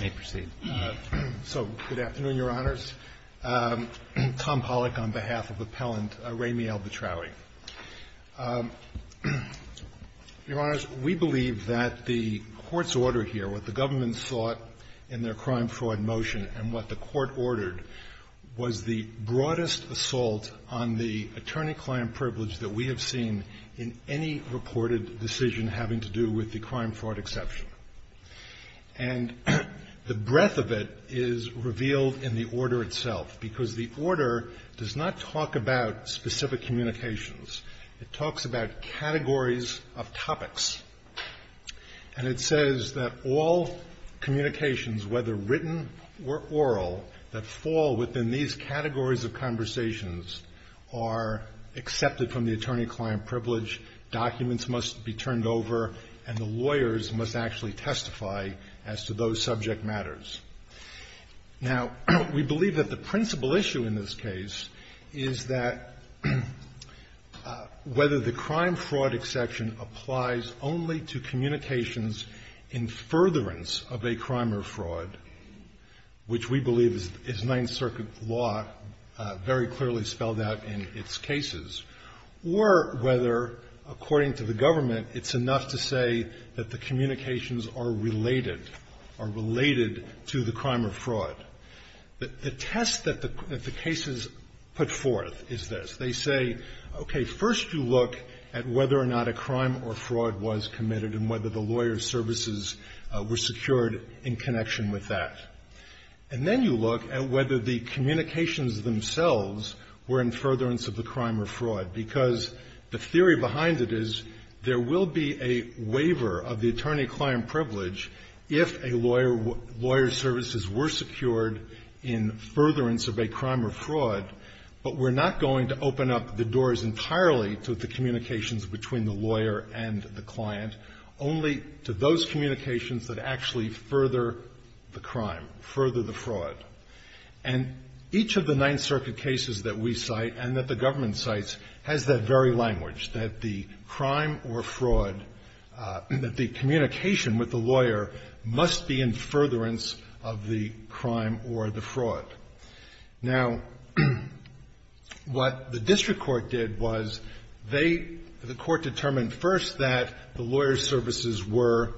May proceed. So, good afternoon, Your Honors. Tom Pollack on behalf of Appellant Raymiel Batrawi. Your Honors, we believe that the Court's order here, what the government sought in their crime-fraud motion and what the Court ordered, was the broadest assault on the attorney-client privilege that we have seen in any reported decision having to do with the crime-fraud exception. And the breadth of it is revealed in the order itself, because the order does not talk about specific communications. It talks about categories of topics. And it says that all communications, whether written or oral, that fall within these categories of conversations are accepted from the attorney-client privilege, documents must be turned over, and the lawyers must actually testify as to those subject matters. Now, we believe that the principal issue in this case is that whether the crime-fraud exception applies only to communications in furtherance of a crime or fraud, which we believe is Ninth Circuit law very clearly spelled out in its cases, or whether, according to the government, it's enough to say that the communications are related, are related to the crime or fraud. The test that the cases put forth is this. They say, okay, first you look at whether or not a crime or fraud was committed and whether the lawyer's services were secured in connection with that. And then you look at whether the communications themselves were in furtherance of the crime or fraud, because the theory behind it is there will be a waiver of the attorney-client privilege if a lawyer's services were secured in furtherance of a crime or fraud, but we're not going to open up the doors entirely to the communications between the lawyer and the client, only to those communications that actually further the crime, further the fraud. And each of the Ninth Circuit cases that we cite and that the government cites has that very language, that the crime or fraud that the communication with the lawyer must be in furtherance of the crime or the fraud. Now, what the district court did was they, the court determined first that the lawyer's services were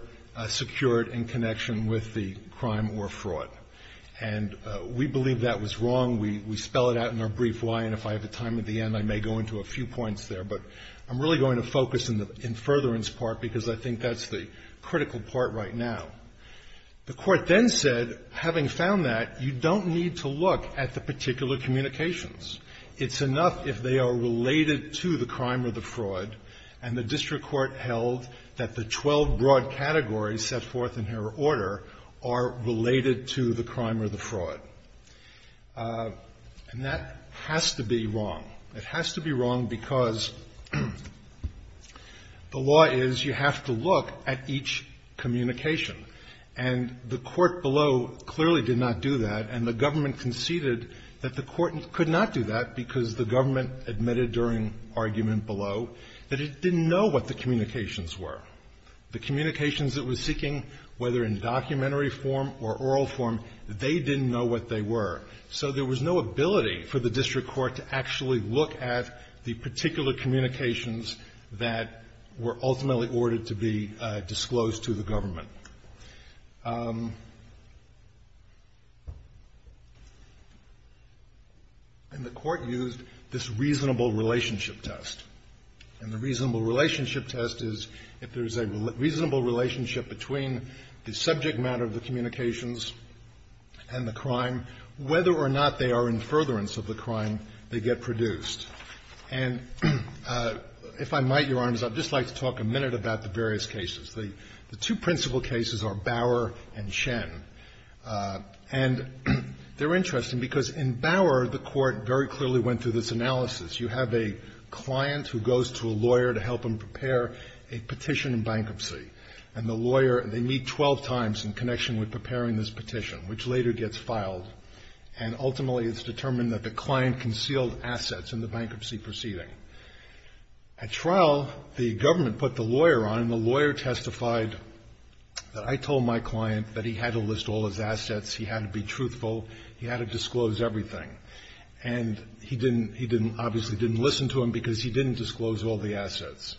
secured in connection with the crime or fraud. And we believe that was wrong. We spell it out in our brief why, and if I have a chance to do that, at the end, I may go into a few points there, but I'm really going to focus in furtherance part, because I think that's the critical part right now. The court then said, having found that, you don't need to look at the particular communications. It's enough if they are related to the crime or the fraud, and the district court held that the 12 broad categories set forth in her order are related to the It has to be wrong because the law is you have to look at each communication. And the court below clearly did not do that, and the government conceded that the court could not do that because the government admitted during argument below that it didn't know what the communications were. The communications it was seeking, whether in documentary form or oral form, they didn't know what they were. So there was no ability for the district court to actually look at the particular communications that were ultimately ordered to be disclosed to the government. And the court used this reasonable relationship test. And the reasonable relationship test is, if there's a reasonable relationship between the subject matter of the communications and the crime, whether or not they are in furtherance of the crime, they get produced. And if I might, Your Honor, I'd just like to talk a minute about the various cases. The two principal cases are Bower and Shen. And they're interesting because in Bower, the court very clearly went through this analysis. You have a client who goes to a lawyer to help him prepare a petition in bankruptcy. And the lawyer, they meet 12 times in connection with preparing this petition, which later gets filed. And ultimately, it's determined that the client concealed assets in the bankruptcy proceeding. At trial, the government put the lawyer on, and the lawyer testified that I told my client that he had to list all his assets, he had to be truthful, he had to disclose everything. And he didn't, he didn't, obviously didn't listen to him because he didn't disclose all the assets.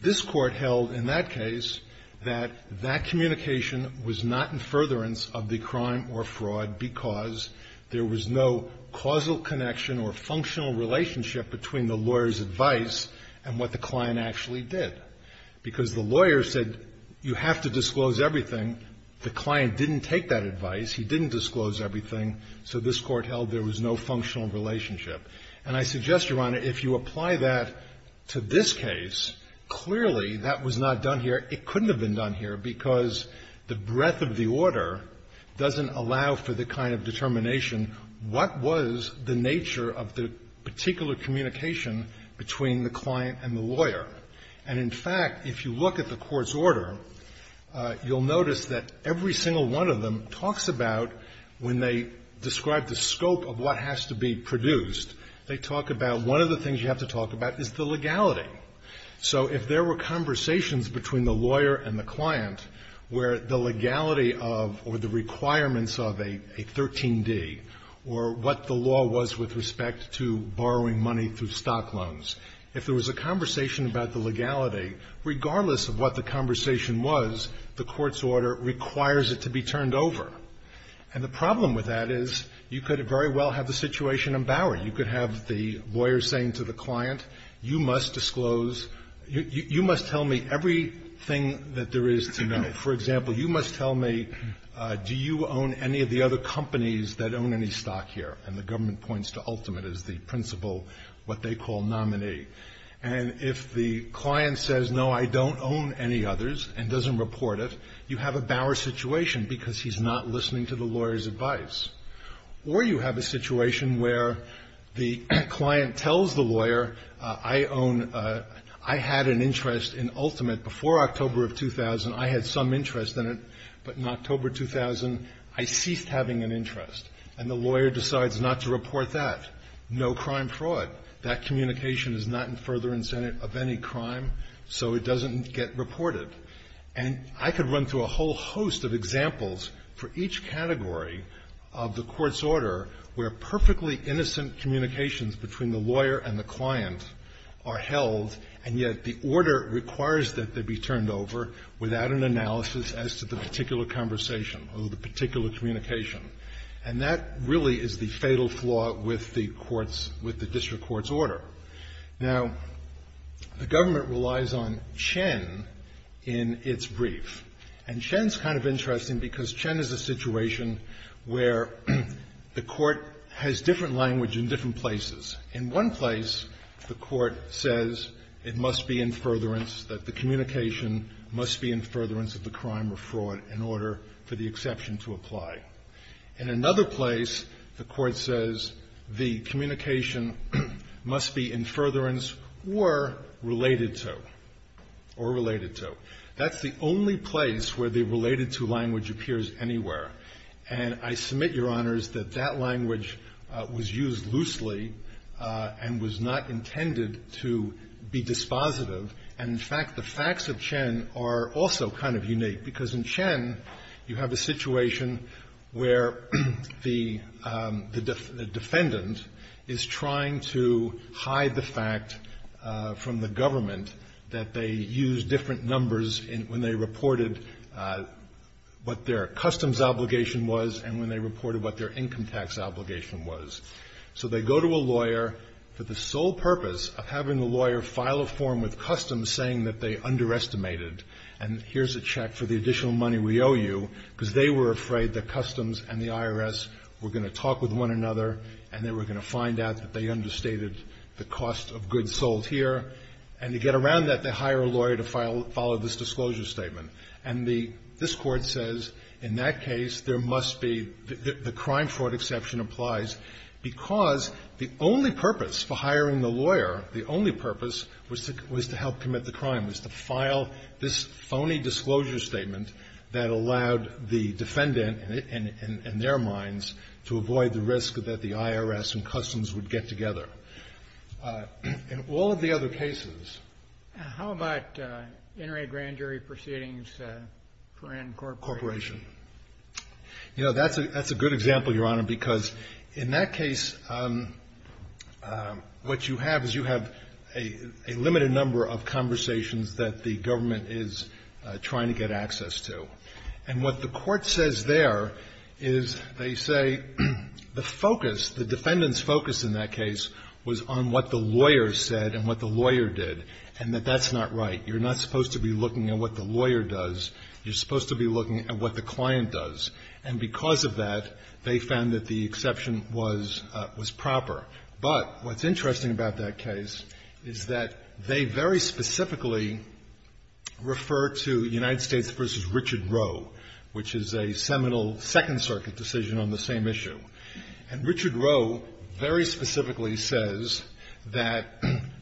This Court held in that case that that communication was not in furtherance of the crime or fraud because there was no causal connection or functional relationship between the lawyer's advice and what the client actually did. Because the lawyer said, you have to disclose everything. The client didn't take that advice. He didn't disclose everything. So this Court held there was no functional relationship. And I suggest, Your Honor, if you apply that to this case, clearly that was not done here. It couldn't have been done here because the breadth of the order doesn't allow for the kind of determination, what was the nature of the particular communication between the client and the lawyer. And, in fact, if you look at the Court's order, you'll notice that every single one of them talks about when they describe the scope of what has to be produced, they talk about one of the things you have to talk about is the legality. So if there were conversations between the lawyer and the client where the legality of or the requirements of a 13D or what the law was with respect to borrowing money through stock loans, if there was a conversation about the legality, regardless of what the conversation was, the Court's order requires it to be turned over. And the problem with that is you could very well have the situation in Bower. You could have the lawyer saying to the client, you must disclose, you must tell me everything that there is to know. For example, you must tell me, do you own any of the other companies that own any stock here? And the government points to Ultimate as the principal, what they call nominee. And if the client says, no, I don't own any others and doesn't report it, you have a Bower situation because he's not listening to the lawyer's advice. Or you have a situation where the client tells the lawyer, I own – I had an interest in Ultimate before October of 2000. I had some interest in it, but in October 2000, I ceased having an interest. And the lawyer decides not to report that. No crime fraud. That communication is not in further incentive of any crime, so it doesn't get reported. And I could run through a whole host of examples for each category of the court's order where perfectly innocent communications between the lawyer and the client are held, and yet the order requires that they be turned over without an analysis as to the particular conversation or the particular communication. And that really is the fatal flaw with the court's – with the district court's order. Now, the government relies on Chen in its brief. And Chen's kind of interesting because Chen is a situation where the court has different language in different places. In one place, the court says it must be in furtherance, that the communication must be in furtherance of the crime or fraud in order for the exception to apply. In another place, the court says the communication must be in furtherance or related to. Or related to. That's the only place where the related to language appears anywhere. And I submit, Your Honors, that that language was used loosely and was not intended to be dispositive. And, in fact, the facts of Chen are also kind of unique. Because in Chen, you have a situation where the defendant is trying to hide the fact from the government that they used different numbers when they reported what their customs obligation was and when they reported what their income tax obligation was. So they go to a lawyer for the sole purpose of having the lawyer file a form with Customs saying that they underestimated. And here's a check for the additional money we owe you. Because they were afraid that Customs and the IRS were going to talk with one another and they were going to find out that they understated the cost of goods sold here. And to get around that, they hire a lawyer to follow this disclosure statement. And this Court says, in that case, there must be, the crime-fraud exception applies because the only purpose for hiring the lawyer, the only purpose was to help commit the crime, was to file this phony disclosure statement that allowed the defendant and their minds to avoid the risk that the IRS and Customs would get together. In all of the other cases ---- How about inter-agrande jury proceedings for an incorporation? You know, that's a good example, Your Honor, because in that case, what you have is you have a limited number of conversations that the government is trying to get access to. And what the Court says there is they say the focus, the defendant's focus in that case was on what the lawyer said and what the lawyer did, and that that's not right. You're not supposed to be looking at what the lawyer does. You're supposed to be looking at what the client does. And because of that, they found that the exception was proper. But what's interesting about that case is that they very specifically refer to United States v. Richard Roe, which is a seminal Second Circuit decision on the same issue. And Richard Roe very specifically says that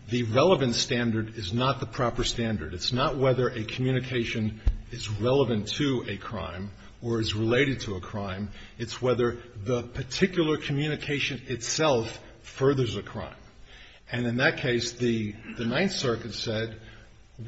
the relevant standard is not the proper standard. It's not whether a communication is relevant or not relevant. It's whether the particular communication itself furthers a crime. And in that case, the Ninth Circuit said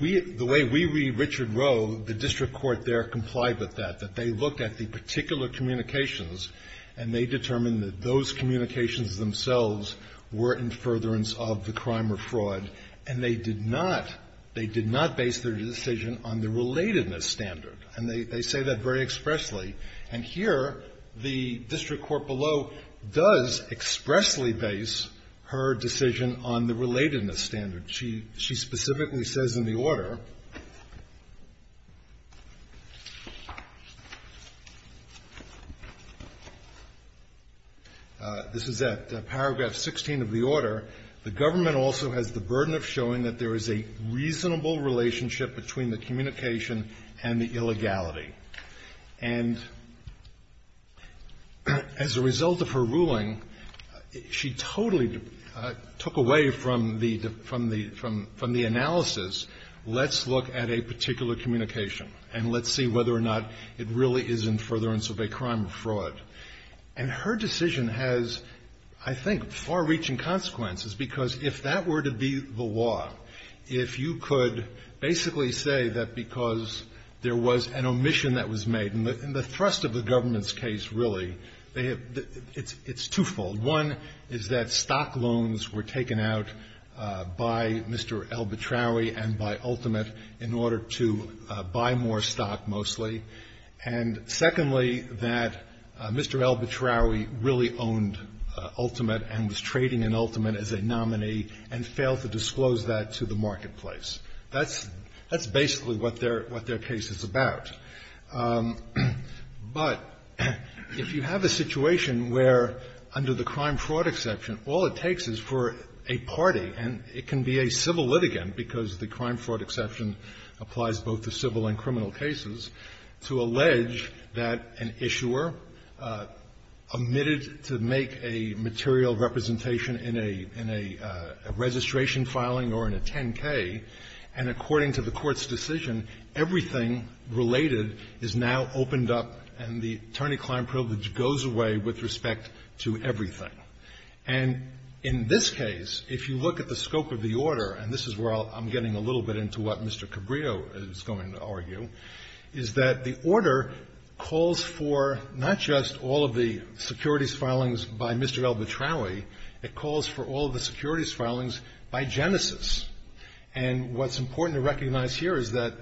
we ---- the way we read Richard Roe, the district court there complied with that, that they looked at the particular communications and they determined that those communications themselves were in furtherance of the crime or fraud, and they did not ---- they did not base their decision on the relatedness standard. And they say that very expressly. And here, the district court below does expressly base her decision on the relatedness standard. She specifically says in the order ---- This is at paragraph 16 of the order. And as a result of her ruling, she totally took away from the analysis, let's look at a particular communication, and let's see whether or not it really is in furtherance of a crime or fraud. And her decision has, I think, far-reaching consequences because if that were to be the law, if you could basically say that because there was an omission that was made, and the thrust of the government's case, really, they have ---- it's twofold. One is that stock loans were taken out by Mr. Elbitrowy and by Ultimate in order to buy more stock, mostly. And secondly, that Mr. Elbitrowy really owned Ultimate and was trading in Ultimate as a nominee and failed to disclose that to the marketplace. That's basically what their case is about. But if you have a situation where under the crime-fraud exception, all it takes is for a party, and it can be a civil litigant, because the crime-fraud exception applies both to civil and criminal cases, to allege that an issuer omitted to make a material representation in a ---- in a registration filing or in a 10-K, and according to the Court's decision, everything related is now opened up and the attorney-client privilege goes away with respect to everything. And in this case, if you look at the scope of the order, and this is where I'm getting a little bit into what Mr. Cabrillo is going to argue, is that the order calls for not just all of the securities filings by Mr. Elbitrowy, it calls for all of the securities filings by Genesis. And what's important to recognize here is that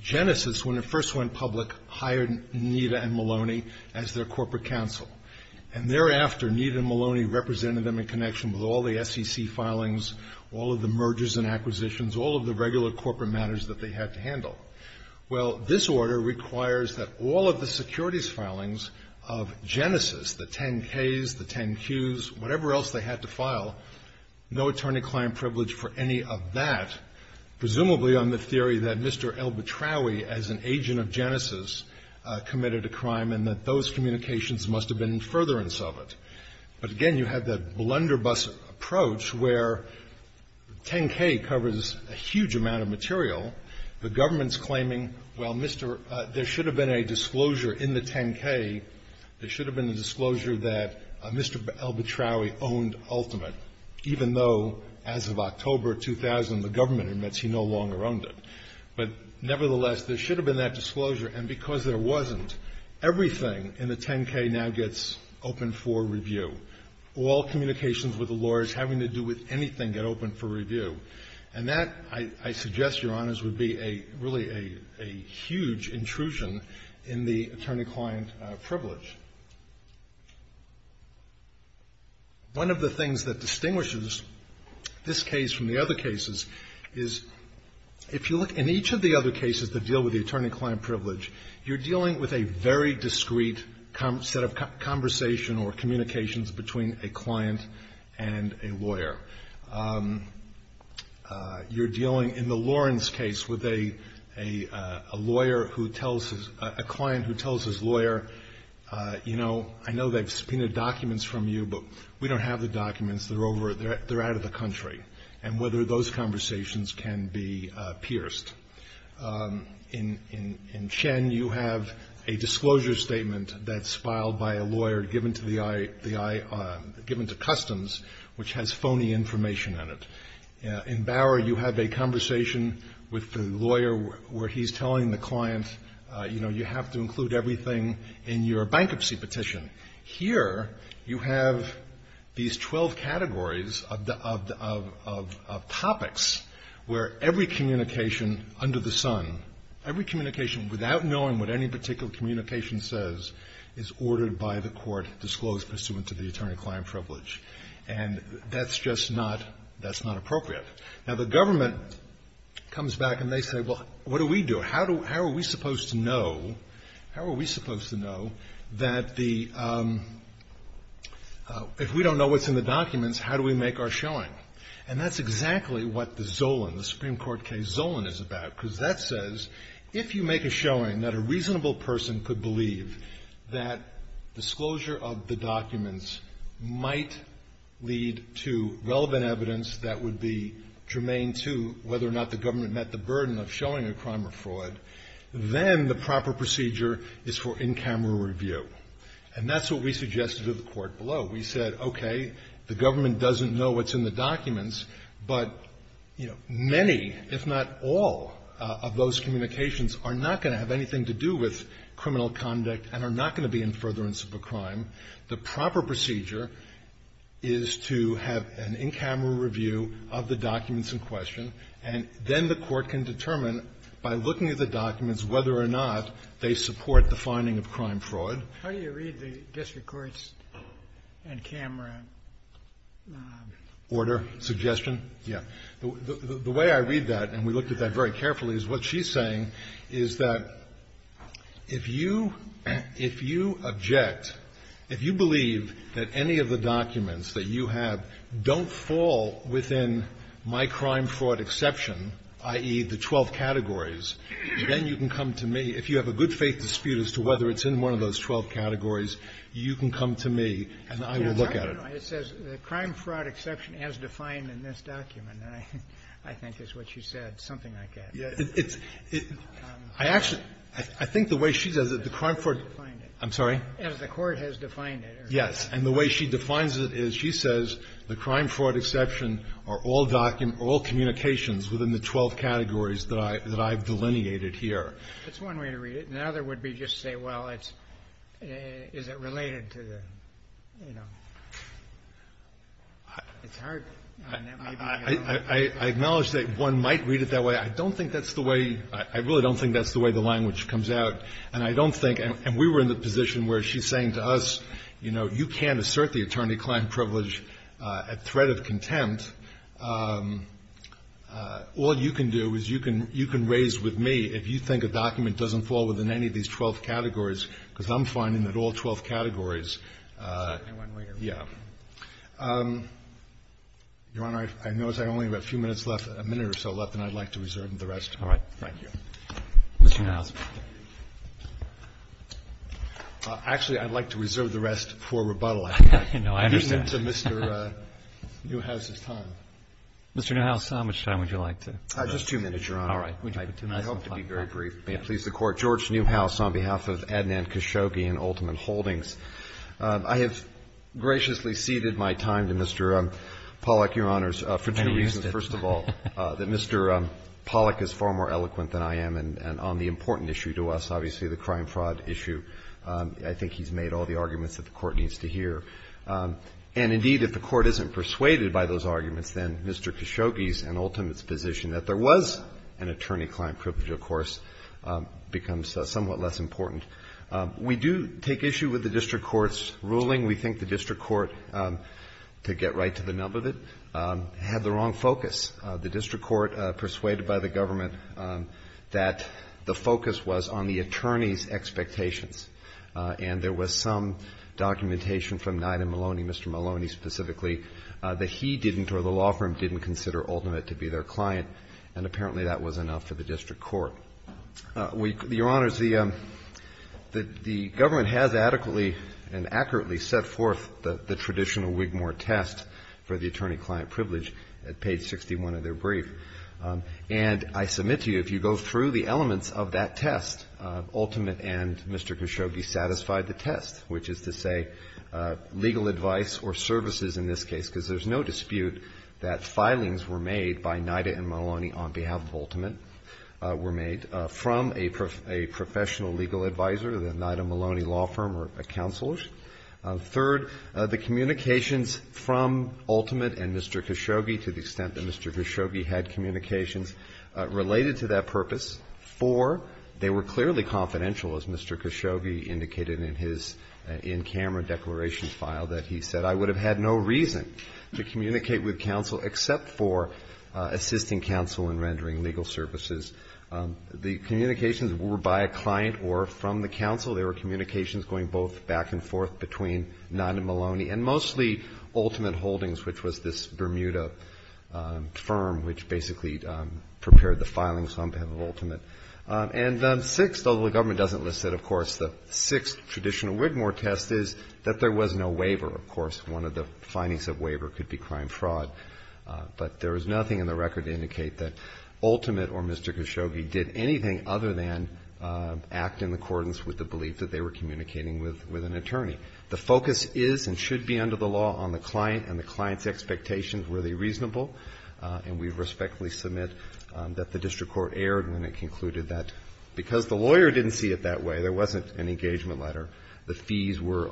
Genesis, when it first went public, hired Nita and Maloney as their corporate counsel. And thereafter, Nita and Maloney represented them in connection with all the SEC filings, all of the mergers and acquisitions, all of the regular corporate matters that they had to handle. Well, this order requires that all of the securities filings of Genesis, the 10-Ks, the 10-Qs, whatever else they had to file, no attorney-client privilege for any of that, presumably on the theory that Mr. Elbitrowy, as an agent of Genesis, committed a crime and that those communications must have been in furtherance of it. But again, you have that blunderbuss approach where 10-K covers a huge amount of material, the government's claiming, well, Mr. — there should have been a disclosure in the 10-K, there should have been a disclosure that Mr. Elbitrowy owned Ultimate, even though as of October 2000, the government admits he no longer owned it. But nevertheless, there should have been that disclosure. And because there wasn't, everything in the 10-K now gets open for review. All communications with the lawyers having to do with anything get open for review. And that, I suggest, Your Honors, would be a — really a huge intrusion in the attorney-client privilege. One of the things that distinguishes this case from the other cases is if you look in each of the other cases that deal with the attorney-client privilege, you're dealing with a very discreet set of conversation or communications between a client and a lawyer. You're dealing, in the Lawrence case, with a lawyer who tells his — a client who tells his lawyer, you know, I know they've subpoenaed documents from you, but we don't have the documents, they're over — they're out of the country, and whether those conversations can be pierced. In Chen, you have a disclosure statement that's filed by a lawyer given to the — given to Customs, which has phony information on it. In Bower, you have a conversation with the lawyer where he's telling the client, you know, you have to include everything in your bankruptcy petition. Here, you have these 12 categories of the — of topics where every communication under the sun, every communication without knowing what any particular communication says, is ordered by the court, disclosed pursuant to the law. And that's just not — that's not appropriate. Now, the government comes back and they say, well, what do we do? How do — how are we supposed to know — how are we supposed to know that the — if we don't know what's in the documents, how do we make our showing? And that's exactly what the Zolan, the Supreme Court case, Zolan is about, because that says, if you make a showing that a reasonable person could believe that disclosure of the documents might lead to relevant evidence that would be germane to whether or not the government met the burden of showing a crime or fraud, then the proper procedure is for in-camera review. And that's what we suggested to the court below. We said, okay, the government doesn't know what's in the documents, but, you know, many, if not all, of those communications are not going to have anything to do with criminal conduct and are not going to be in furtherance of a crime. The proper procedure is to have an in-camera review of the documents in question, and then the court can determine, by looking at the documents, whether or not they support the finding of crime-fraud. Kennedy. How do you read the district court's in-camera order, suggestion? Yeah. The way I read that, and we looked at that very carefully, is what she's saying is that if you object, if you believe that any of the documents that you have don't fall within my crime-fraud exception, i.e., the 12 categories, then you can come to me, if you have a good-faith dispute as to whether it's in one of those 12 categories, you can come to me, and I will look at it. It says the crime-fraud exception as defined in this document, and I think it's what she said, something like that. It's – I actually – I think the way she says it, the crime-fraud – I'm sorry? As the court has defined it. Yes. And the way she defines it is she says the crime-fraud exception are all – all communications within the 12 categories that I've delineated here. That's one way to read it. The other would be just to say, well, it's – is it related to the, you know – it's hard. I acknowledge that one might read it that way. I don't think that's the way – I really don't think that's the way the language comes out, and I don't think – and we were in the position where she's saying to us, you know, you can't assert the attorney-client privilege at threat of contempt. All you can do is you can raise with me, if you think a document doesn't fall within any of these 12 categories, because I'm finding that all 12 categories – Exactly one way to read it. Yeah. Your Honor, I notice I only have a few minutes left, a minute or so left, and I'd like to reserve the rest. All right. Thank you. Mr. Newhouse. Actually, I'd like to reserve the rest for rebuttal. I think I've given it to Mr. Newhouse's time. Mr. Newhouse, how much time would you like to give us? Just two minutes, Your Honor. All right. Would you like two minutes? I hope to be very brief. May it please the Court. Mr. Newhouse, on behalf of Adnan Khashoggi and Ultimate Holdings, I have graciously ceded my time to Mr. Pollack, Your Honors, for two reasons. First of all, that Mr. Pollack is far more eloquent than I am, and on the important issue to us, obviously the crime-fraud issue, I think he's made all the arguments that the Court needs to hear. And indeed, if the Court isn't persuaded by those arguments, then Mr. Khashoggi's and Ultimate's position that there was an attorney-client privilege, of course, becomes somewhat less important. We do take issue with the district court's ruling. We think the district court, to get right to the nub of it, had the wrong focus. The district court persuaded by the government that the focus was on the attorney's expectations, and there was some documentation from Nida Maloney, Mr. Maloney specifically, that he didn't or the law firm didn't consider Ultimate to be their client, and apparently that was enough for the district court. Well, Your Honors, the government has adequately and accurately set forth the traditional Wigmore test for the attorney-client privilege at page 61 of their brief, and I submit to you, if you go through the elements of that test, Ultimate and Mr. Khashoggi satisfied the test, which is to say legal advice or services in this case, because there's no dispute that filings were made by Nida and Maloney on behalf of Ultimate, were made from a professional legal advisor, the Nida Maloney law firm or a counselor. Third, the communications from Ultimate and Mr. Khashoggi, to the extent that Mr. Khashoggi had communications related to that purpose, four, they were clearly confidential, as Mr. Khashoggi indicated in his in-camera declaration file that he said, I would have had no reason to communicate with counsel except for assisting counsel in rendering legal services. The communications were by a client or from the counsel. There were communications going both back and forth between Nida Maloney and mostly Ultimate Holdings, which was this Bermuda firm which basically prepared the filings on behalf of Ultimate. And sixth, although the government doesn't list it, of course, the sixth traditional Wigmore test is that there was no waiver. Of course, one of the findings of waiver could be crime fraud, but there is nothing in the record to indicate that Ultimate or Mr. Khashoggi did anything other than act in accordance with the belief that they were communicating with an attorney. The focus is and should be under the law on the client and the client's expectations, were they reasonable? And we respectfully submit that the district court erred when it concluded that because the lawyer didn't see it that way, there wasn't an engagement letter, the fees were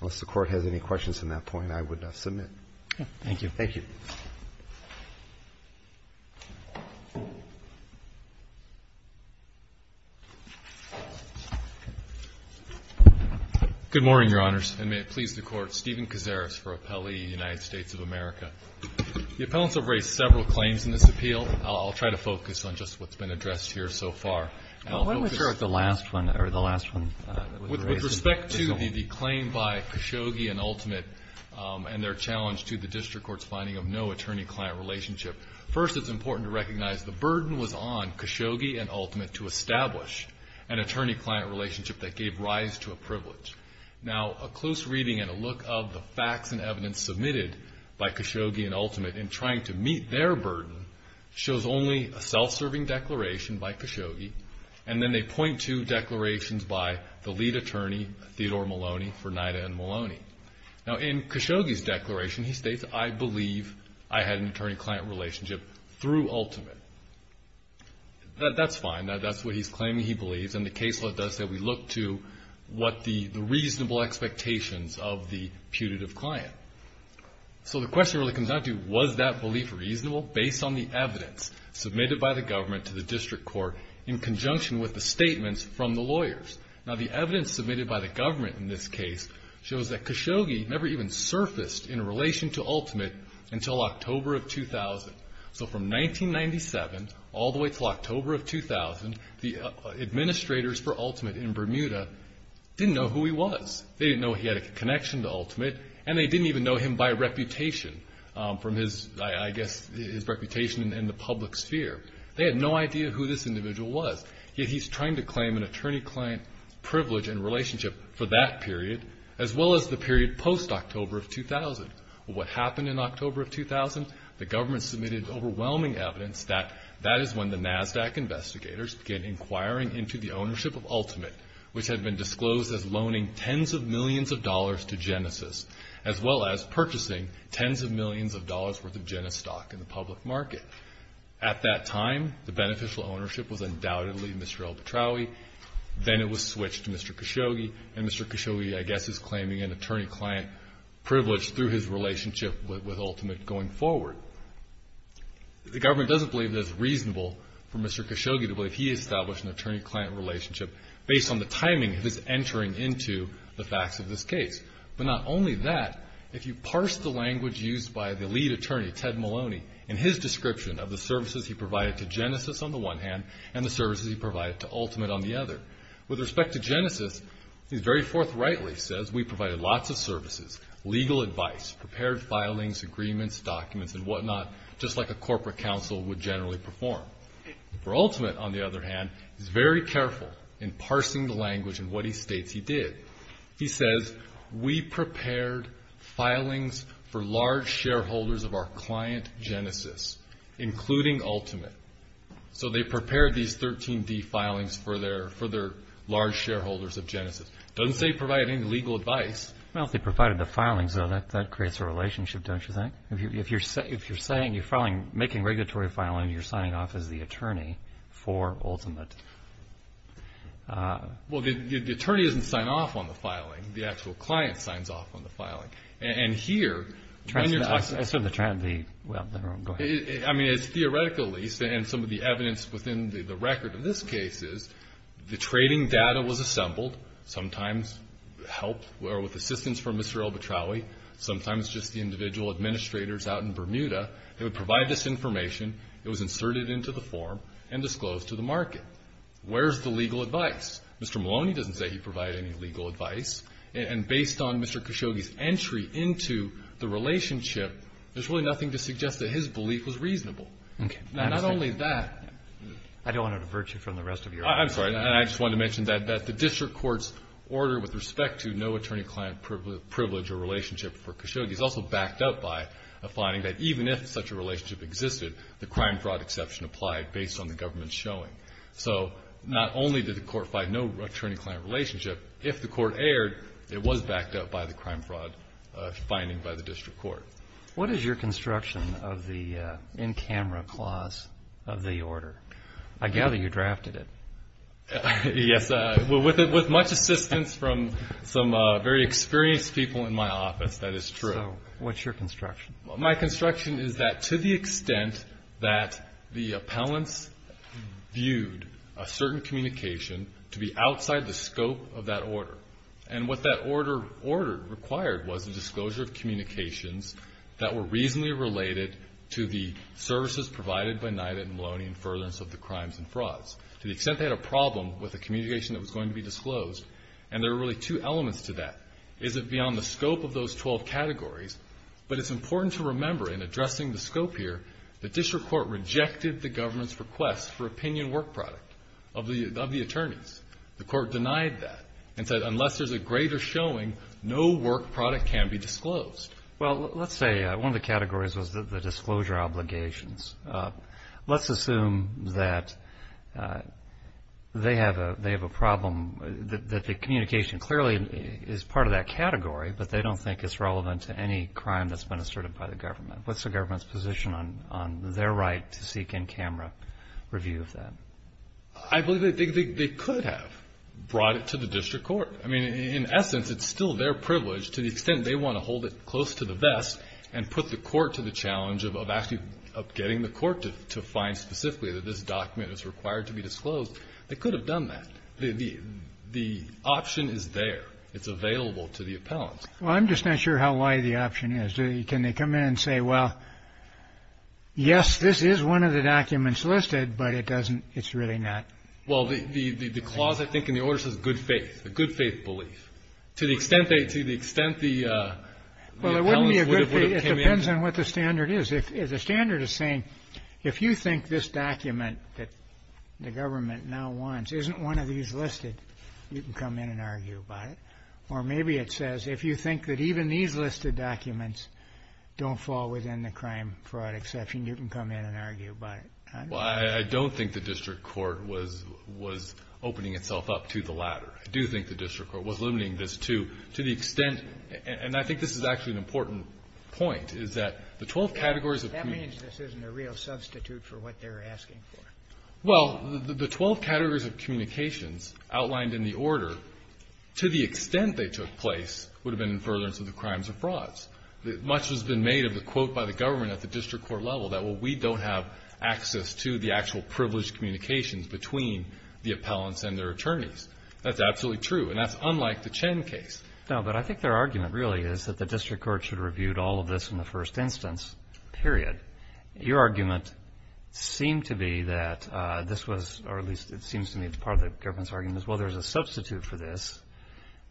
Unless the Court has any questions on that point, I would submit. Thank you. Thank you. Good morning, Your Honors, and may it please the Court. Stephen Kaczeres for Appellee, United States of America. The appellants have raised several claims in this appeal. I'll try to focus on just what's been addressed here so far. Well, why don't we start with the last one, or the last one that was raised? With respect to the claim by Khashoggi and Ultimate and their challenge to the district court's finding of no attorney-client relationship, first it's important to recognize the burden was on Khashoggi and Ultimate to establish an attorney-client relationship that gave rise to a privilege. Now, a close reading and a look of the facts and evidence submitted by Khashoggi and Ultimate in trying to meet their burden shows only a self-serving declaration by Khashoggi, and then they point to declarations by the lead attorney, Theodore Maloney, for NIDA and Maloney. Now, in Khashoggi's declaration, he states, I believe I had an attorney-client relationship through Ultimate. That's fine. That's what he's claiming he believes. And the case law does say we look to what the reasonable expectations of the putative client. So the question really comes down to, was that belief reasonable based on the evidence submitted by the government to the district court in conjunction with the statements from the lawyers? Now, the evidence submitted by the government in this case shows that Khashoggi never even surfaced in relation to Ultimate until October of 2000. So from 1997 all the way until October of 2000, the administrators for Ultimate in Bermuda didn't know who he was. They didn't know he had a connection to Ultimate, and they didn't even know him by reputation, from his, I guess, his reputation in the public sphere. They had no idea who this individual was. Yet he's trying to claim an attorney-client privilege and relationship for that period, as well as the period post-October of 2000. What happened in October of 2000? The government submitted overwhelming evidence that that is when the NASDAQ investigators began inquiring into the ownership of Ultimate, which had been disclosed as loaning tens of millions of dollars to Genesis, as well as purchasing tens of millions of dollars' worth of Genesis stock in the public market. At that time, the beneficial ownership was undoubtedly Mr. Alpetraoui. Then it was switched to Mr. Khashoggi, and Mr. Khashoggi, I guess, is claiming an attorney-client privilege through his relationship with Ultimate going forward. The government doesn't believe that it's reasonable for Mr. Khashoggi to believe he established an attorney-client relationship based on the timing of his entering into the facts of this case. But not only that, if you parse the language used by the lead attorney, Ted Maloney, in his description of the services he provided to Genesis on the one hand, and the services he provided to Ultimate on the other. With respect to Genesis, he very forthrightly says, we provided lots of services, legal advice, prepared filings, agreements, documents, and whatnot, just like a corporate counsel would generally perform. For Ultimate, on the other hand, he's very careful in parsing the language in what he states he did. He says, we prepared filings for large shareholders of our client Genesis, including Ultimate. So they prepared these 13D filings for their large shareholders of Genesis. Doesn't say provide any legal advice. Well, if they provided the filings, though, that creates a relationship, don't you think? If you're saying you're making regulatory filing, you're signing off as the attorney for Ultimate. Well, the attorney doesn't sign off on the filing. The actual client signs off on the filing. And here, when you're talking about... I saw the... Well, never mind. Go ahead. I mean, it's theoretically, and some of the evidence within the record of this case is, the trading data was assembled, sometimes helped, or with assistance from Mr. Albetraoui, sometimes just the individual administrators out in Bermuda, who would provide this information. It was inserted into the form and disclosed to the market. Where's the legal advice? Mr. Maloney doesn't say he provided any legal advice. And based on Mr. Khashoggi's entry into the relationship, there's really nothing to suggest that his belief was reasonable. Okay. Now, not only that... I don't want to divert you from the rest of your... I'm sorry. And I just wanted to mention that the district court's order with respect to no attorney-client privilege or relationship for Khashoggi is also backed up by a finding that even if such a relationship existed, the crime-fraud exception applied based on the government's showing. So, not only did the court find no attorney-client relationship, if the court erred, it was backed up by the crime-fraud finding by the district court. What is your construction of the in-camera clause of the order? I gather you drafted it. Yes, with much assistance from some very experienced people in my office. That is true. So, what's your construction? My construction is that to the extent that the appellants viewed a certain communication to be outside the scope of that order, and what that order required was a disclosure of communications that were reasonably related to the services provided by NYTD and Maloney in furtherance of the crimes and frauds. To the extent they had a problem with the communication that was going to be disclosed, and there were really two elements to that. Is it beyond the scope of those 12 categories? But it's important to remember in addressing the scope here, the district court rejected the government's request for opinion work product of the attorneys. The court denied that and said unless there's a greater showing, no work product can be disclosed. Well, let's say one of the categories was the disclosure obligations. Let's assume that they have a problem, that the communication clearly is part of that category, but they don't think it's relevant to any crime that's been asserted by the government. What's the government's position on their right to seek in camera review of that? I believe they could have brought it to the district court. I mean, in essence, it's still their privilege to the extent they want to hold it close to the vest and put the court to the challenge of actually getting the court to find specifically that this document is required to be disclosed. They could have done that. The option is there. It's available to the appellant. Well, I'm just not sure how wide the option is. Can they come in and say, well, yes, this is one of the documents listed, but it doesn't, it's really not. Well, the clause, I think, in the order says good faith, a good faith belief. To the extent the appellant would have came in. It depends on what the standard is. If the standard is saying, if you think this document that the government now wants isn't one of these listed, you can come in and argue about it. Or maybe it says, if you think that even these listed documents don't fall within the crime fraud exception, you can come in and argue about it. Well, I don't think the district court was opening itself up to the latter. I do think the district court was limiting this to, to the extent, and I think this is actually an important point, is that the 12 categories of. That means this isn't a real substitute for what they're asking for. Well, the 12 categories of communications outlined in the order, to the extent they took place, would have been in furtherance of the crimes of frauds. Much has been made of the quote by the government at the district court level that, well, we don't have access to the actual privileged communications between the appellants and their attorneys. That's absolutely true, and that's unlike the Chen case. Now, but I think their argument really is that the district court should have reviewed all of this in the first instance, period. Your argument seemed to be that this was, or at least it seems to me it's part of the government's argument, is well, there's a substitute for this.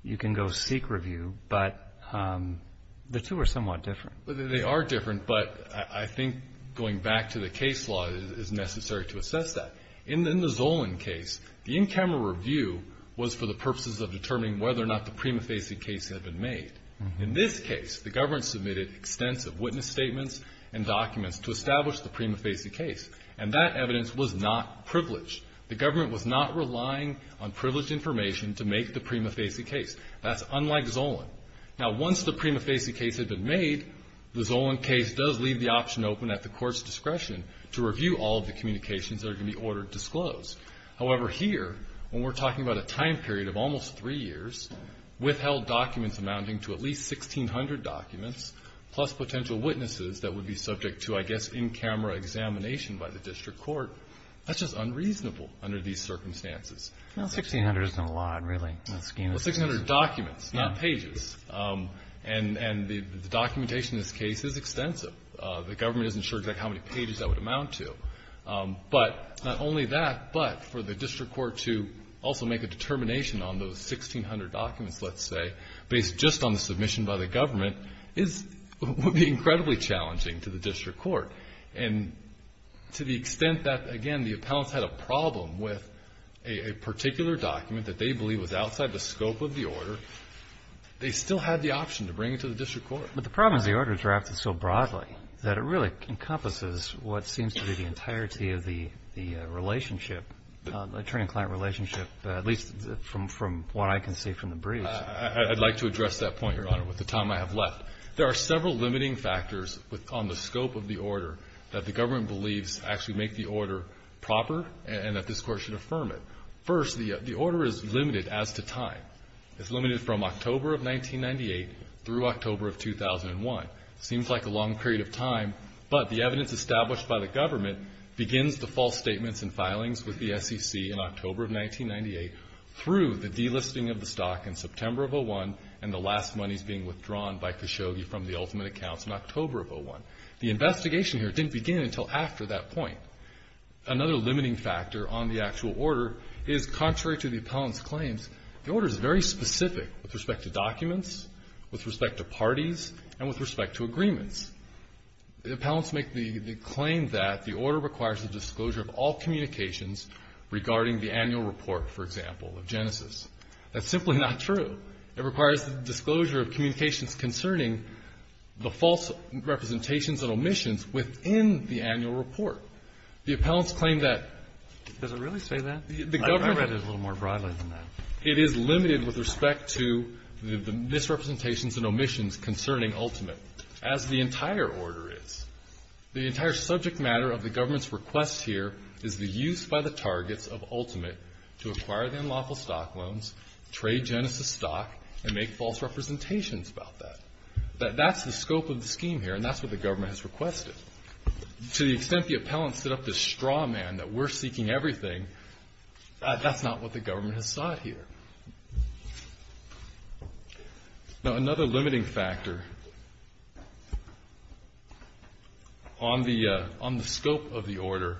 You can go seek review, but the two are somewhat different. Well, they are different, but I think going back to the case law is necessary to assess that. In the Zolan case, the in-camera review was for the purposes of determining whether or not the prima facie case had been made. In this case, the government submitted extensive witness statements and documents to establish the prima facie case, and that evidence was not privileged. The government was not relying on privileged information to make the prima facie case. That's unlike Zolan. Now, once the prima facie case had been made, the Zolan case does leave the option open at the court's discretion to review all of the communications that are going to be ordered to disclose. However, here, when we're talking about a time period of almost three years, withheld documents amounting to at least 1,600 documents, plus potential witnesses that would be subject to, I guess, in-camera examination by the district court, that's just unreasonable under these circumstances. Well, 1,600 isn't a lot, really. Well, 1,600 documents, not pages. And the documentation in this case is extensive. The government isn't sure exactly how many pages that would amount to. But not only that, but for the district court to also make a determination on those 1,600 documents, let's say, based just on the submission by the government would be incredibly challenging to the district court. And to the extent that, again, the appellants had a problem with a particular document that they believe was outside the scope of the order, they still had the option to bring it to the district court. But the problem is the order is drafted so broadly that it really encompasses what seems to be the entirety of the relationship, the attorney-client relationship, at least from what I can see from the briefs. I'd like to address that point, Your Honor, with the time I have left. There are several limiting factors on the scope of the order that the government believes actually make the order proper and that this court should affirm it. First, the order is limited as to time. It's limited from October of 1998 through October of 2001. Seems like a long period of time, but the evidence established by the government begins the false statements and filings with the SEC in October of 1998 through the delisting of the stock in September of 2001 and the last monies being withdrawn by Khashoggi from the ultimate accounts in October of 2001. The investigation here didn't begin until after that point. Another limiting factor on the actual order is, contrary to the appellant's claims, the order is very specific with respect to documents, with respect to parties, and with respect to agreements. The appellants make the claim that the order requires the disclosure of all communications regarding the annual report, for example, of Genesis. That's simply not true. It requires the disclosure of communications concerning the false representations and omissions within the annual report. The appellants claim that the government the government It is limited with respect to the misrepresentations and omissions concerning ultimate, as the entire order is. The entire subject matter of the government's request here is the use by the targets of ultimate to acquire the unlawful stock loans, trade Genesis stock, and make false representations about that. That's the scope of the scheme here, and that's what the government has requested. To the extent the appellants set up this straw man that we're seeking everything, that's not what the government has sought here. Now, another limiting factor on the scope of the order,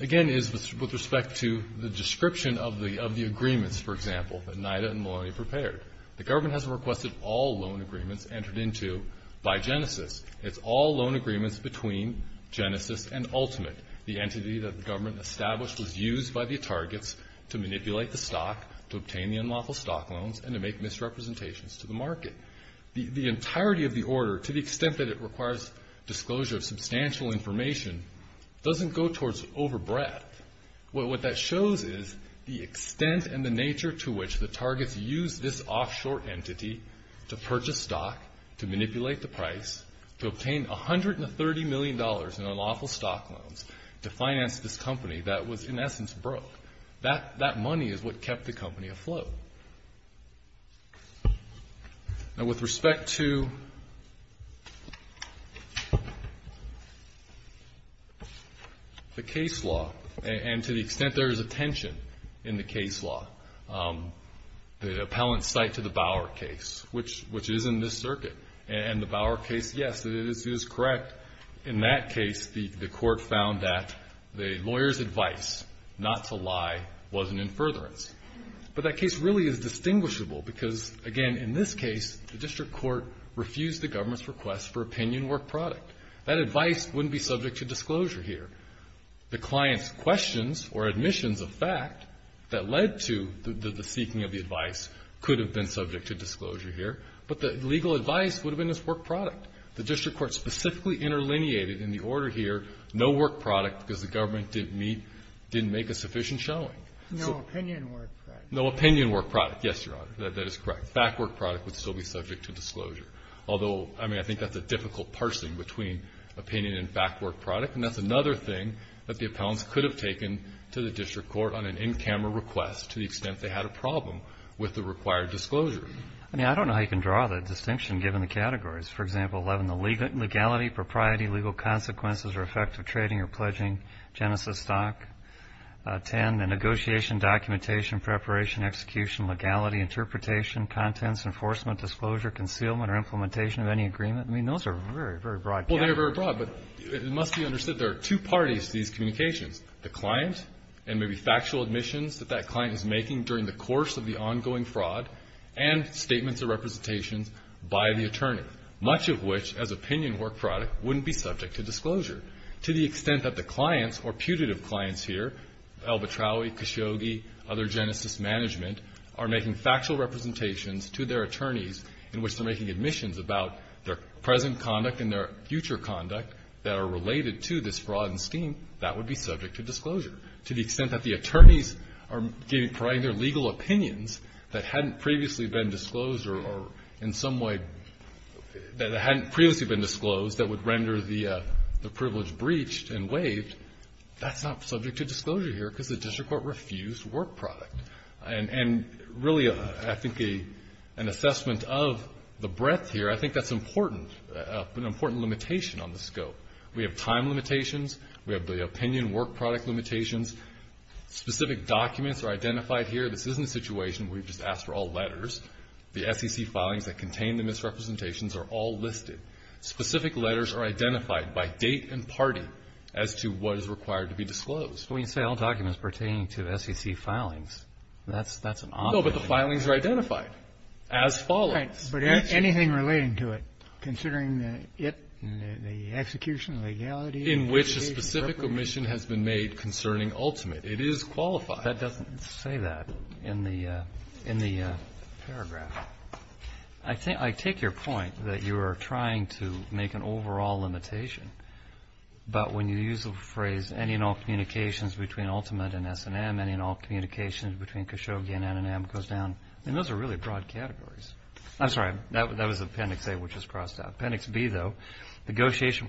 again, is with respect to the description of the agreements, for example, that NIDA and Maloney prepared. The government hasn't requested all loan agreements entered into by Genesis. It's all loan agreements between Genesis and ultimate. The entity that the government established was used by the targets to manipulate the stock, to obtain the unlawful stock loans, and to make misrepresentations to the market. The entirety of the order, to the extent that it requires disclosure of substantial information, doesn't go towards over breadth. What that shows is the extent and the nature to which the targets use this offshore entity to purchase stock, to manipulate the price, to obtain $130 million in unlawful stock loans, to finance this company that was, in essence, broke. That money is what kept the company afloat. Now, with respect to the case law, and to the extent there is a tension in the case law, the appellant's cite to the Bauer case, which is in this circuit, and the Bauer case, yes, it is correct, in that case, the court found that the lawyer's advice, not to lie, wasn't in furtherance. But that case really is distinguishable, because, again, in this case, the district court refused the government's request for opinion work product. That advice wouldn't be subject to disclosure here. The client's questions, or admissions of fact, that led to the seeking of the advice, could have been subject to disclosure here. But the legal advice would have been this work product. The district court specifically interlineated in the order here, no work product, because the government didn't meet, didn't make a sufficient showing. So no opinion work product, yes, Your Honor, that is correct. Fact work product would still be subject to disclosure. Although, I mean, I think that's a difficult parsing between opinion and fact work product, and that's another thing that the appellants could have taken to the district court on an in-camera request, to the extent they had a problem with the required disclosure. I mean, I don't know how you can draw the distinction, given the categories. For example, 11, the legality, propriety, legal consequences, or effect of trading or pledging, genesis stock, 10, the negotiation, documentation, preparation, execution, legality, interpretation, contents, enforcement, disclosure, concealment, or implementation of any agreement. I mean, those are very, very broad categories. Well, they are very broad, but it must be understood there are two parties to these communications, the client, and maybe factual admissions that that client is subject to fraud, and statements of representations by the attorney. Much of which, as opinion work product, wouldn't be subject to disclosure. To the extent that the clients, or putative clients here, Al Batraoui, Khashoggi, other genesis management, are making factual representations to their attorneys, in which they're making admissions about their present conduct and their future conduct, that are related to this fraud and scheme, that would be subject to disclosure. To the extent that the attorneys are providing their legal opinions that hadn't previously been disclosed, or in some way, that hadn't previously been disclosed, that would render the privilege breached and waived, that's not subject to disclosure here, because the district court refused work product. And really, I think an assessment of the breadth here, I think that's important, an important limitation on the scope. We have time limitations, we have the opinion work product limitations. Specific documents are identified here. This isn't a situation where you just ask for all letters. The SEC filings that contain the misrepresentations are all listed. Specific letters are identified by date and party as to what is required to be disclosed. But when you say all documents pertaining to the SEC filings, that's an odd thing. No, but the filings are identified as follows. But anything relating to it, considering the execution of legality. In which a specific omission has been made concerning ultimate. It is qualified. That doesn't say that in the paragraph. I take your point that you are trying to make an overall limitation. But when you use the phrase, any and all communications between ultimate and S&M, any and all communications between Kashoggi and N&M goes down. And those are really broad categories. I'm sorry, that was Appendix A, which is crossed out. Appendix B, though, negotiation,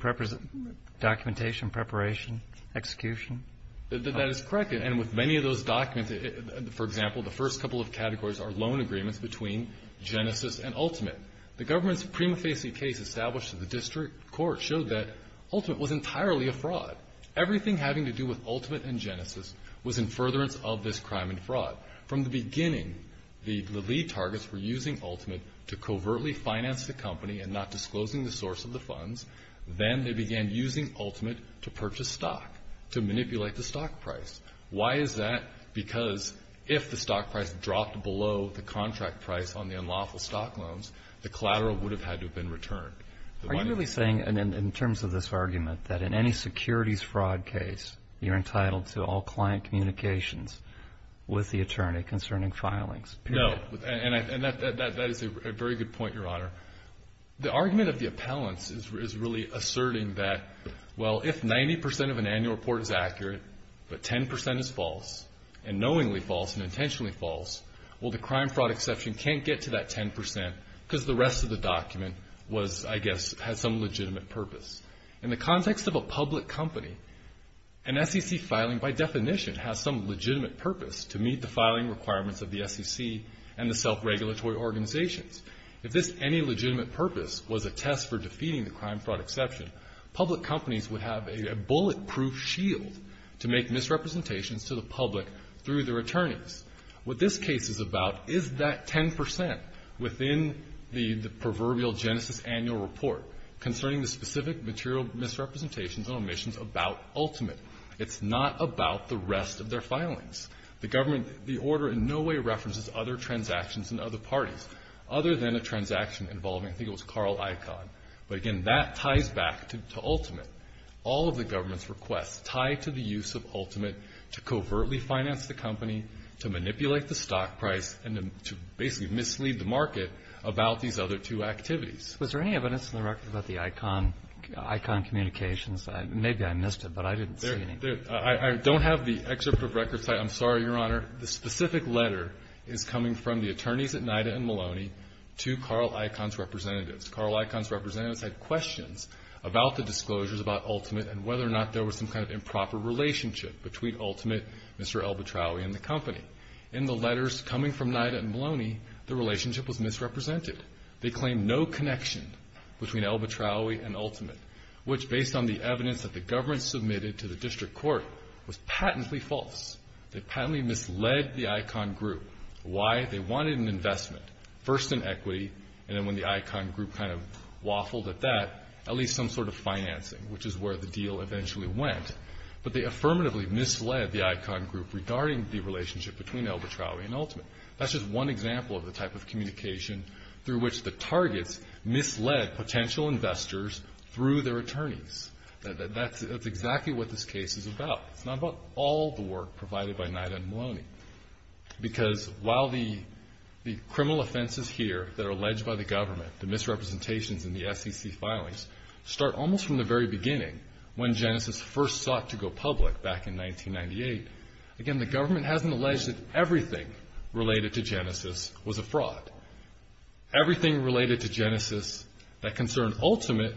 documentation, preparation, execution. That is correct. And with many of those documents, for example, the first couple of categories are loan agreements between Genesis and Ultimate. The government's prima facie case established in the district court showed that Ultimate was entirely a fraud. Everything having to do with Ultimate and Genesis was in furtherance of this crime and fraud. From the beginning, the lead targets were using Ultimate to covertly finance the company and not disclosing the source of the funds. Then they began using Ultimate to purchase stock, to manipulate the stock price. Why is that? Because if the stock price dropped below the contract price on the unlawful stock loans, the collateral would have had to have been returned. Are you really saying, in terms of this argument, that in any securities fraud case, you're entitled to all client communications with the attorney concerning filings? No. And that is a very good point, Your Honor. The argument of the appellants is really asserting that, well, if 90% of an annual report is accurate, but 10% is false, and knowingly false and intentionally false, well, the crime fraud exception can't get to that 10% because the rest of the document was, I guess, had some legitimate purpose. In the context of a public company, an SEC filing, by definition, has some If this any legitimate purpose was a test for defeating the crime fraud exception, public companies would have a bulletproof shield to make misrepresentations to the public through their attorneys. What this case is about is that 10% within the proverbial genesis annual report concerning the specific material misrepresentations and omissions about Ultimate. It's not about the rest of their filings. The government, the order in no way references other transactions in other parties other than a transaction involving, I think it was Carl Icahn. But again, that ties back to Ultimate. All of the government's requests tie to the use of Ultimate to covertly finance the company, to manipulate the stock price, and to basically mislead the market about these other two activities. Was there any evidence in the record about the Icahn communications? Maybe I missed it, but I didn't see any. I don't have the excerpt of records. I'm sorry, Your Honor. The specific letter is coming from the attorneys at NIDA and Maloney to Carl Icahn's representatives. Carl Icahn's representatives had questions about the disclosures about Ultimate and whether or not there was some kind of improper relationship between Ultimate, Mr. Elbertraui, and the company. In the letters coming from NIDA and Maloney, the relationship was misrepresented. The evidence that the government submitted to the district court was patently false. They patently misled the Icahn group. Why? They wanted an investment, first in equity, and then when the Icahn group kind of waffled at that, at least some sort of financing, which is where the deal eventually went. But they affirmatively misled the Icahn group regarding the relationship between Elbertraui and Ultimate. That's just one example of the type of communication through which the targets misled potential investors through their attorneys. That's exactly what this case is about. It's not about all the work provided by NIDA and Maloney. Because while the criminal offenses here that are alleged by the government, the misrepresentations and the SEC filings, start almost from the very beginning when Genesis first sought to go public back in 1998. Again, the government hasn't alleged that everything related to Genesis was a fraud. Everything related to Genesis that concerned Ultimate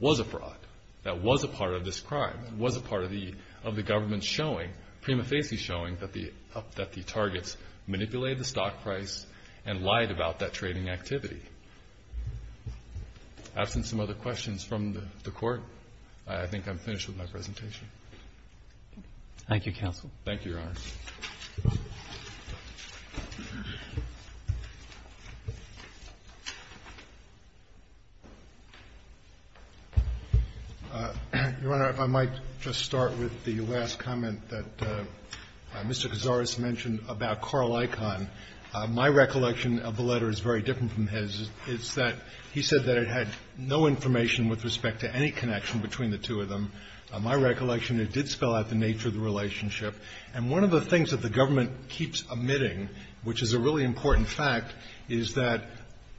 was a fraud. That was a part of this crime. It was a part of the government showing, prima facie showing, that the targets manipulated the stock price and lied about that trading activity. Absent some other questions from the court, I think I'm finished with my presentation. Thank you, Counsel. Thank you, Your Honor. Your Honor, if I might just start with the last comment that Mr. Cazares mentioned about Carl Icahn. My recollection of the letter is very different from his. It's that he said that it had no information with respect to any connection between the two of them. My recollection, it did spell out the nature of the relationship. And one of the things that the government keeps omitting, which is a really important fact, is that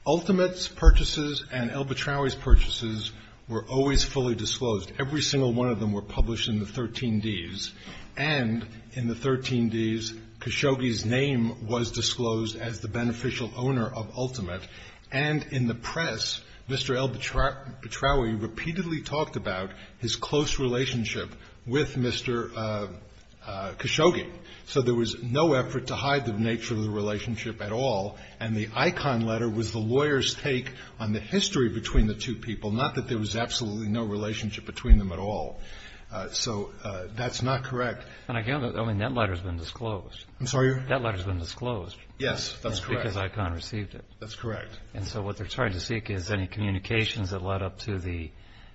Ultimate's purchases and L. Betraui's purchases were always fully disclosed. Every single one of them were published in the 13Ds. And in the 13Ds, Khashoggi's name was disclosed as the beneficial owner of Ultimate. And in the press, Mr. L. Betraui repeatedly talked about his close relationship with Mr. Khashoggi. So there was no effort to hide the nature of the relationship at all. And the Icahn letter was the lawyer's take on the history between the two people, not that there was absolutely no relationship between them at all. So that's not correct. And again, I mean, that letter's been disclosed. I'm sorry? That letter's been disclosed. Yes, that's correct. Because Icahn received it. That's correct. And so what they're trying to seek is any communications that led up to the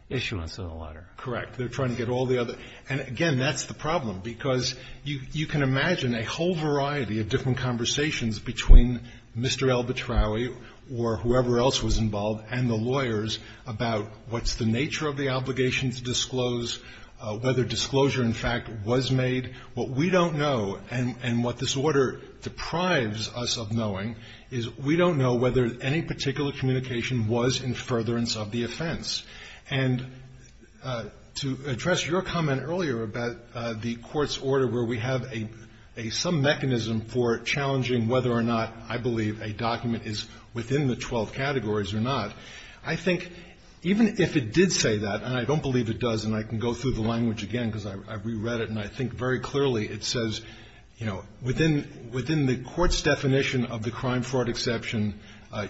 issuance of the letter. Correct. They're trying to get all the other. And again, that's the problem, because you can imagine a whole variety of different conversations between Mr. L. Betraui or whoever else was involved and the lawyers about what's the nature of the obligation to disclose, whether disclosure, in fact, was made. What we don't know, and what this Order deprives us of knowing, is we don't know whether any particular communication was in furtherance of the offense. And to address your comment earlier about the Court's order where we have a some mechanism for challenging whether or not I believe a document is within the 12 categories or not, I think even if it did say that, and I don't believe it does, and I can go through the language again because I reread it and I think very clearly it says, you know, within the Court's definition of the crime-fraud exception,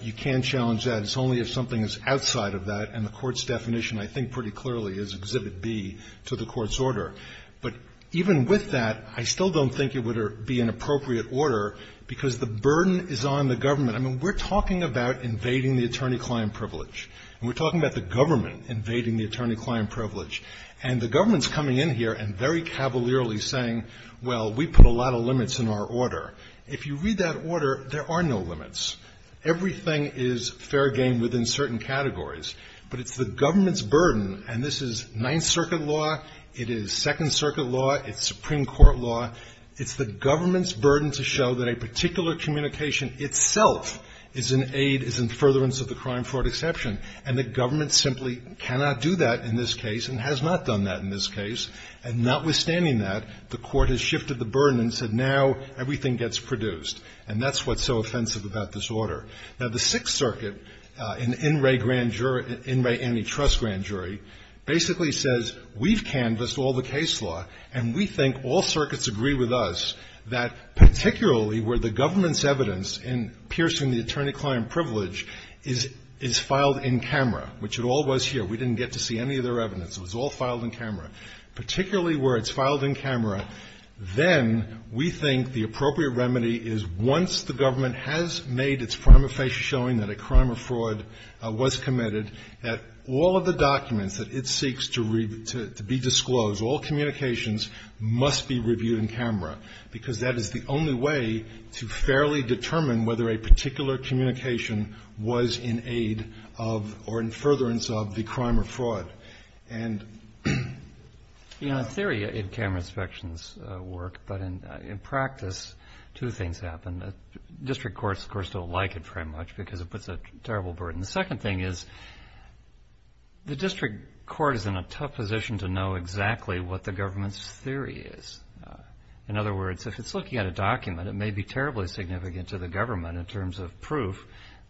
you can't challenge that. It's only if something is outside of that. And the Court's definition, I think pretty clearly, is Exhibit B to the Court's order. But even with that, I still don't think it would be an appropriate order, because the burden is on the government. I mean, we're talking about invading the attorney-client privilege. And we're talking about the government invading the attorney-client privilege. And the government's coming in here and very cavalierly saying, well, we put a lot of limits in our order. If you read that order, there are no limits. Everything is fair game within certain categories. But it's the government's burden, and this is Ninth Circuit law, it is Second Circuit law, it's Supreme Court law, it's the government's burden to show that a particular communication itself is an aid, is in furtherance of the crime-fraud exception. And the government simply cannot do that in this case and has not done that in this case. And notwithstanding that, the Court has shifted the burden and said now everything gets produced. And that's what's so offensive about this order. Now, the Sixth Circuit, an in re-grand jury, in re-antitrust grand jury, basically says we've canvassed all the case law, and we think all circuits agree with us that particularly where the government's evidence in piercing the attorney-client privilege is filed in camera, which it all was here. We didn't get to see any of their evidence. It was all filed in camera. Particularly where it's filed in camera, then we think the appropriate remedy is once the government has made its prima facie showing that a crime or fraud was committed, that all of the documents that it seeks to be disclosed, all communications, must be reviewed in camera, because that is the only way to fairly determine whether a particular communication was in aid of or in furtherance of the crime or fraud. And in our theory, in camera inspections work, but in practice, two things. District courts, of course, don't like it very much because it puts a terrible burden. The second thing is the district court is in a tough position to know exactly what the government's theory is. In other words, if it's looking at a document, it may be terribly significant to the government in terms of proof,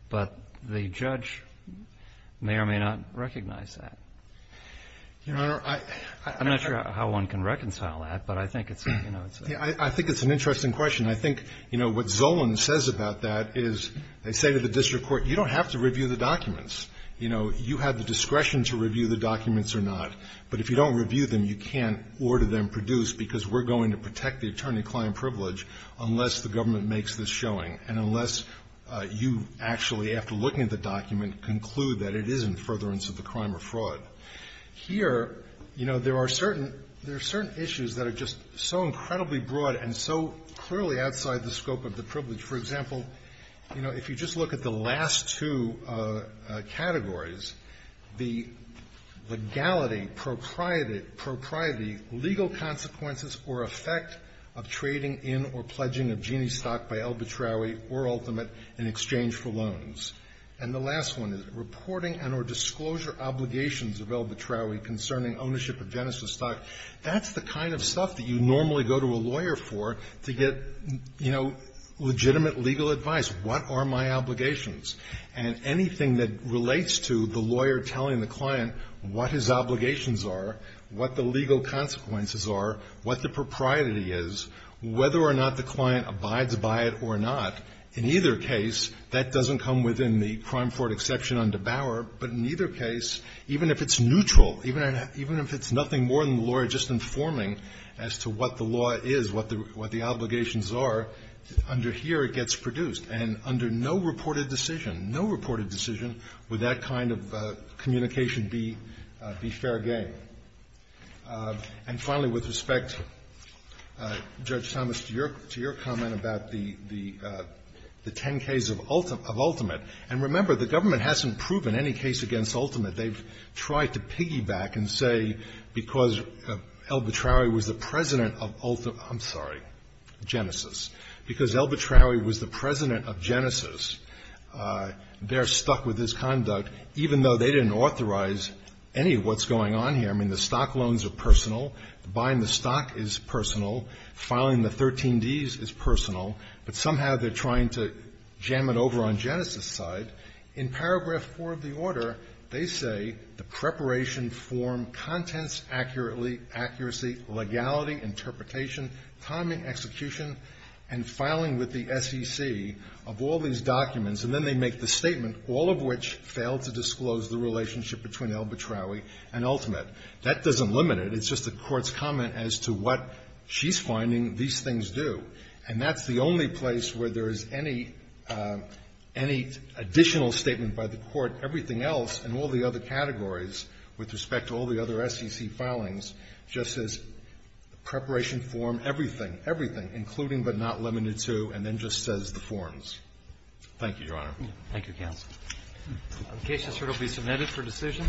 but the judge may or may not recognize that. Your Honor, I'm not sure how one can reconcile that, but I think it's, you know, it's a... Yeah, I think it's an interesting question. I think, you know, what Zolan says about that is they say to the district court, you don't have to review the documents. You know, you have the discretion to review the documents or not, but if you don't review them, you can't order them produced because we're going to protect the attorney client privilege unless the government makes this showing, and unless you actually, after looking at the document, conclude that it is in furtherance of the crime or fraud. Here, you know, there are certain, there are certain issues that are just so incredibly broad and so clearly outside the scope of the privilege. For example, you know, if you just look at the last two categories, the legality, propriety, legal consequences or effect of trading in or pledging of Gini stock by El Betraui or Ultimate in exchange for loans. And the last one is reporting and or disclosure obligations of El Betraui concerning ownership of Genesis stock. That's the kind of stuff that you normally go to a lawyer for to get, you know, legitimate legal advice. What are my obligations? And anything that relates to the lawyer telling the client what his obligations are, what the legal consequences are, what the propriety is, whether or not the client abides by it or not, in either case, that doesn't come within the crime fraud exception under Bauer, but in either case, even if it's neutral, even if it's nothing more than the lawyer just informing as to what the law is, what the obligations are, under here it gets produced. And under no reported decision, no reported decision, would that kind of communication be fair game. And finally, with respect, Judge Thomas, to your comment about the 10ks of Ultimate. And remember, the government hasn't proven any case against Ultimate. They've tried to piggyback and say because El Betraui was the president of Ultimate – I'm sorry, Genesis. Because El Betraui was the president of Genesis, they're stuck with this conduct even though they didn't authorize any of what's going on here. I mean, the stock loans are personal, buying the stock is personal, filing the 13Ds is personal, but somehow they're trying to jam it over on Genesis' side. In paragraph 4 of the order, they say, "...the preparation, form, contents, accuracy, legality, interpretation, timing, execution, and filing with the SEC of all these documents." And then they make the statement, "...all of which fail to disclose the relationship between El Betraui and Ultimate." That doesn't limit it. It's just the Court's comment as to what she's finding these things do. And that's the only place where there is any additional statement by the Court, everything else, and all the other categories with respect to all the other SEC filings, just says, preparation, form, everything, everything, including but not limited to, and then just says the forms. Thank you, Your Honor. Thank you, counsel. The case is here to be submitted for decision.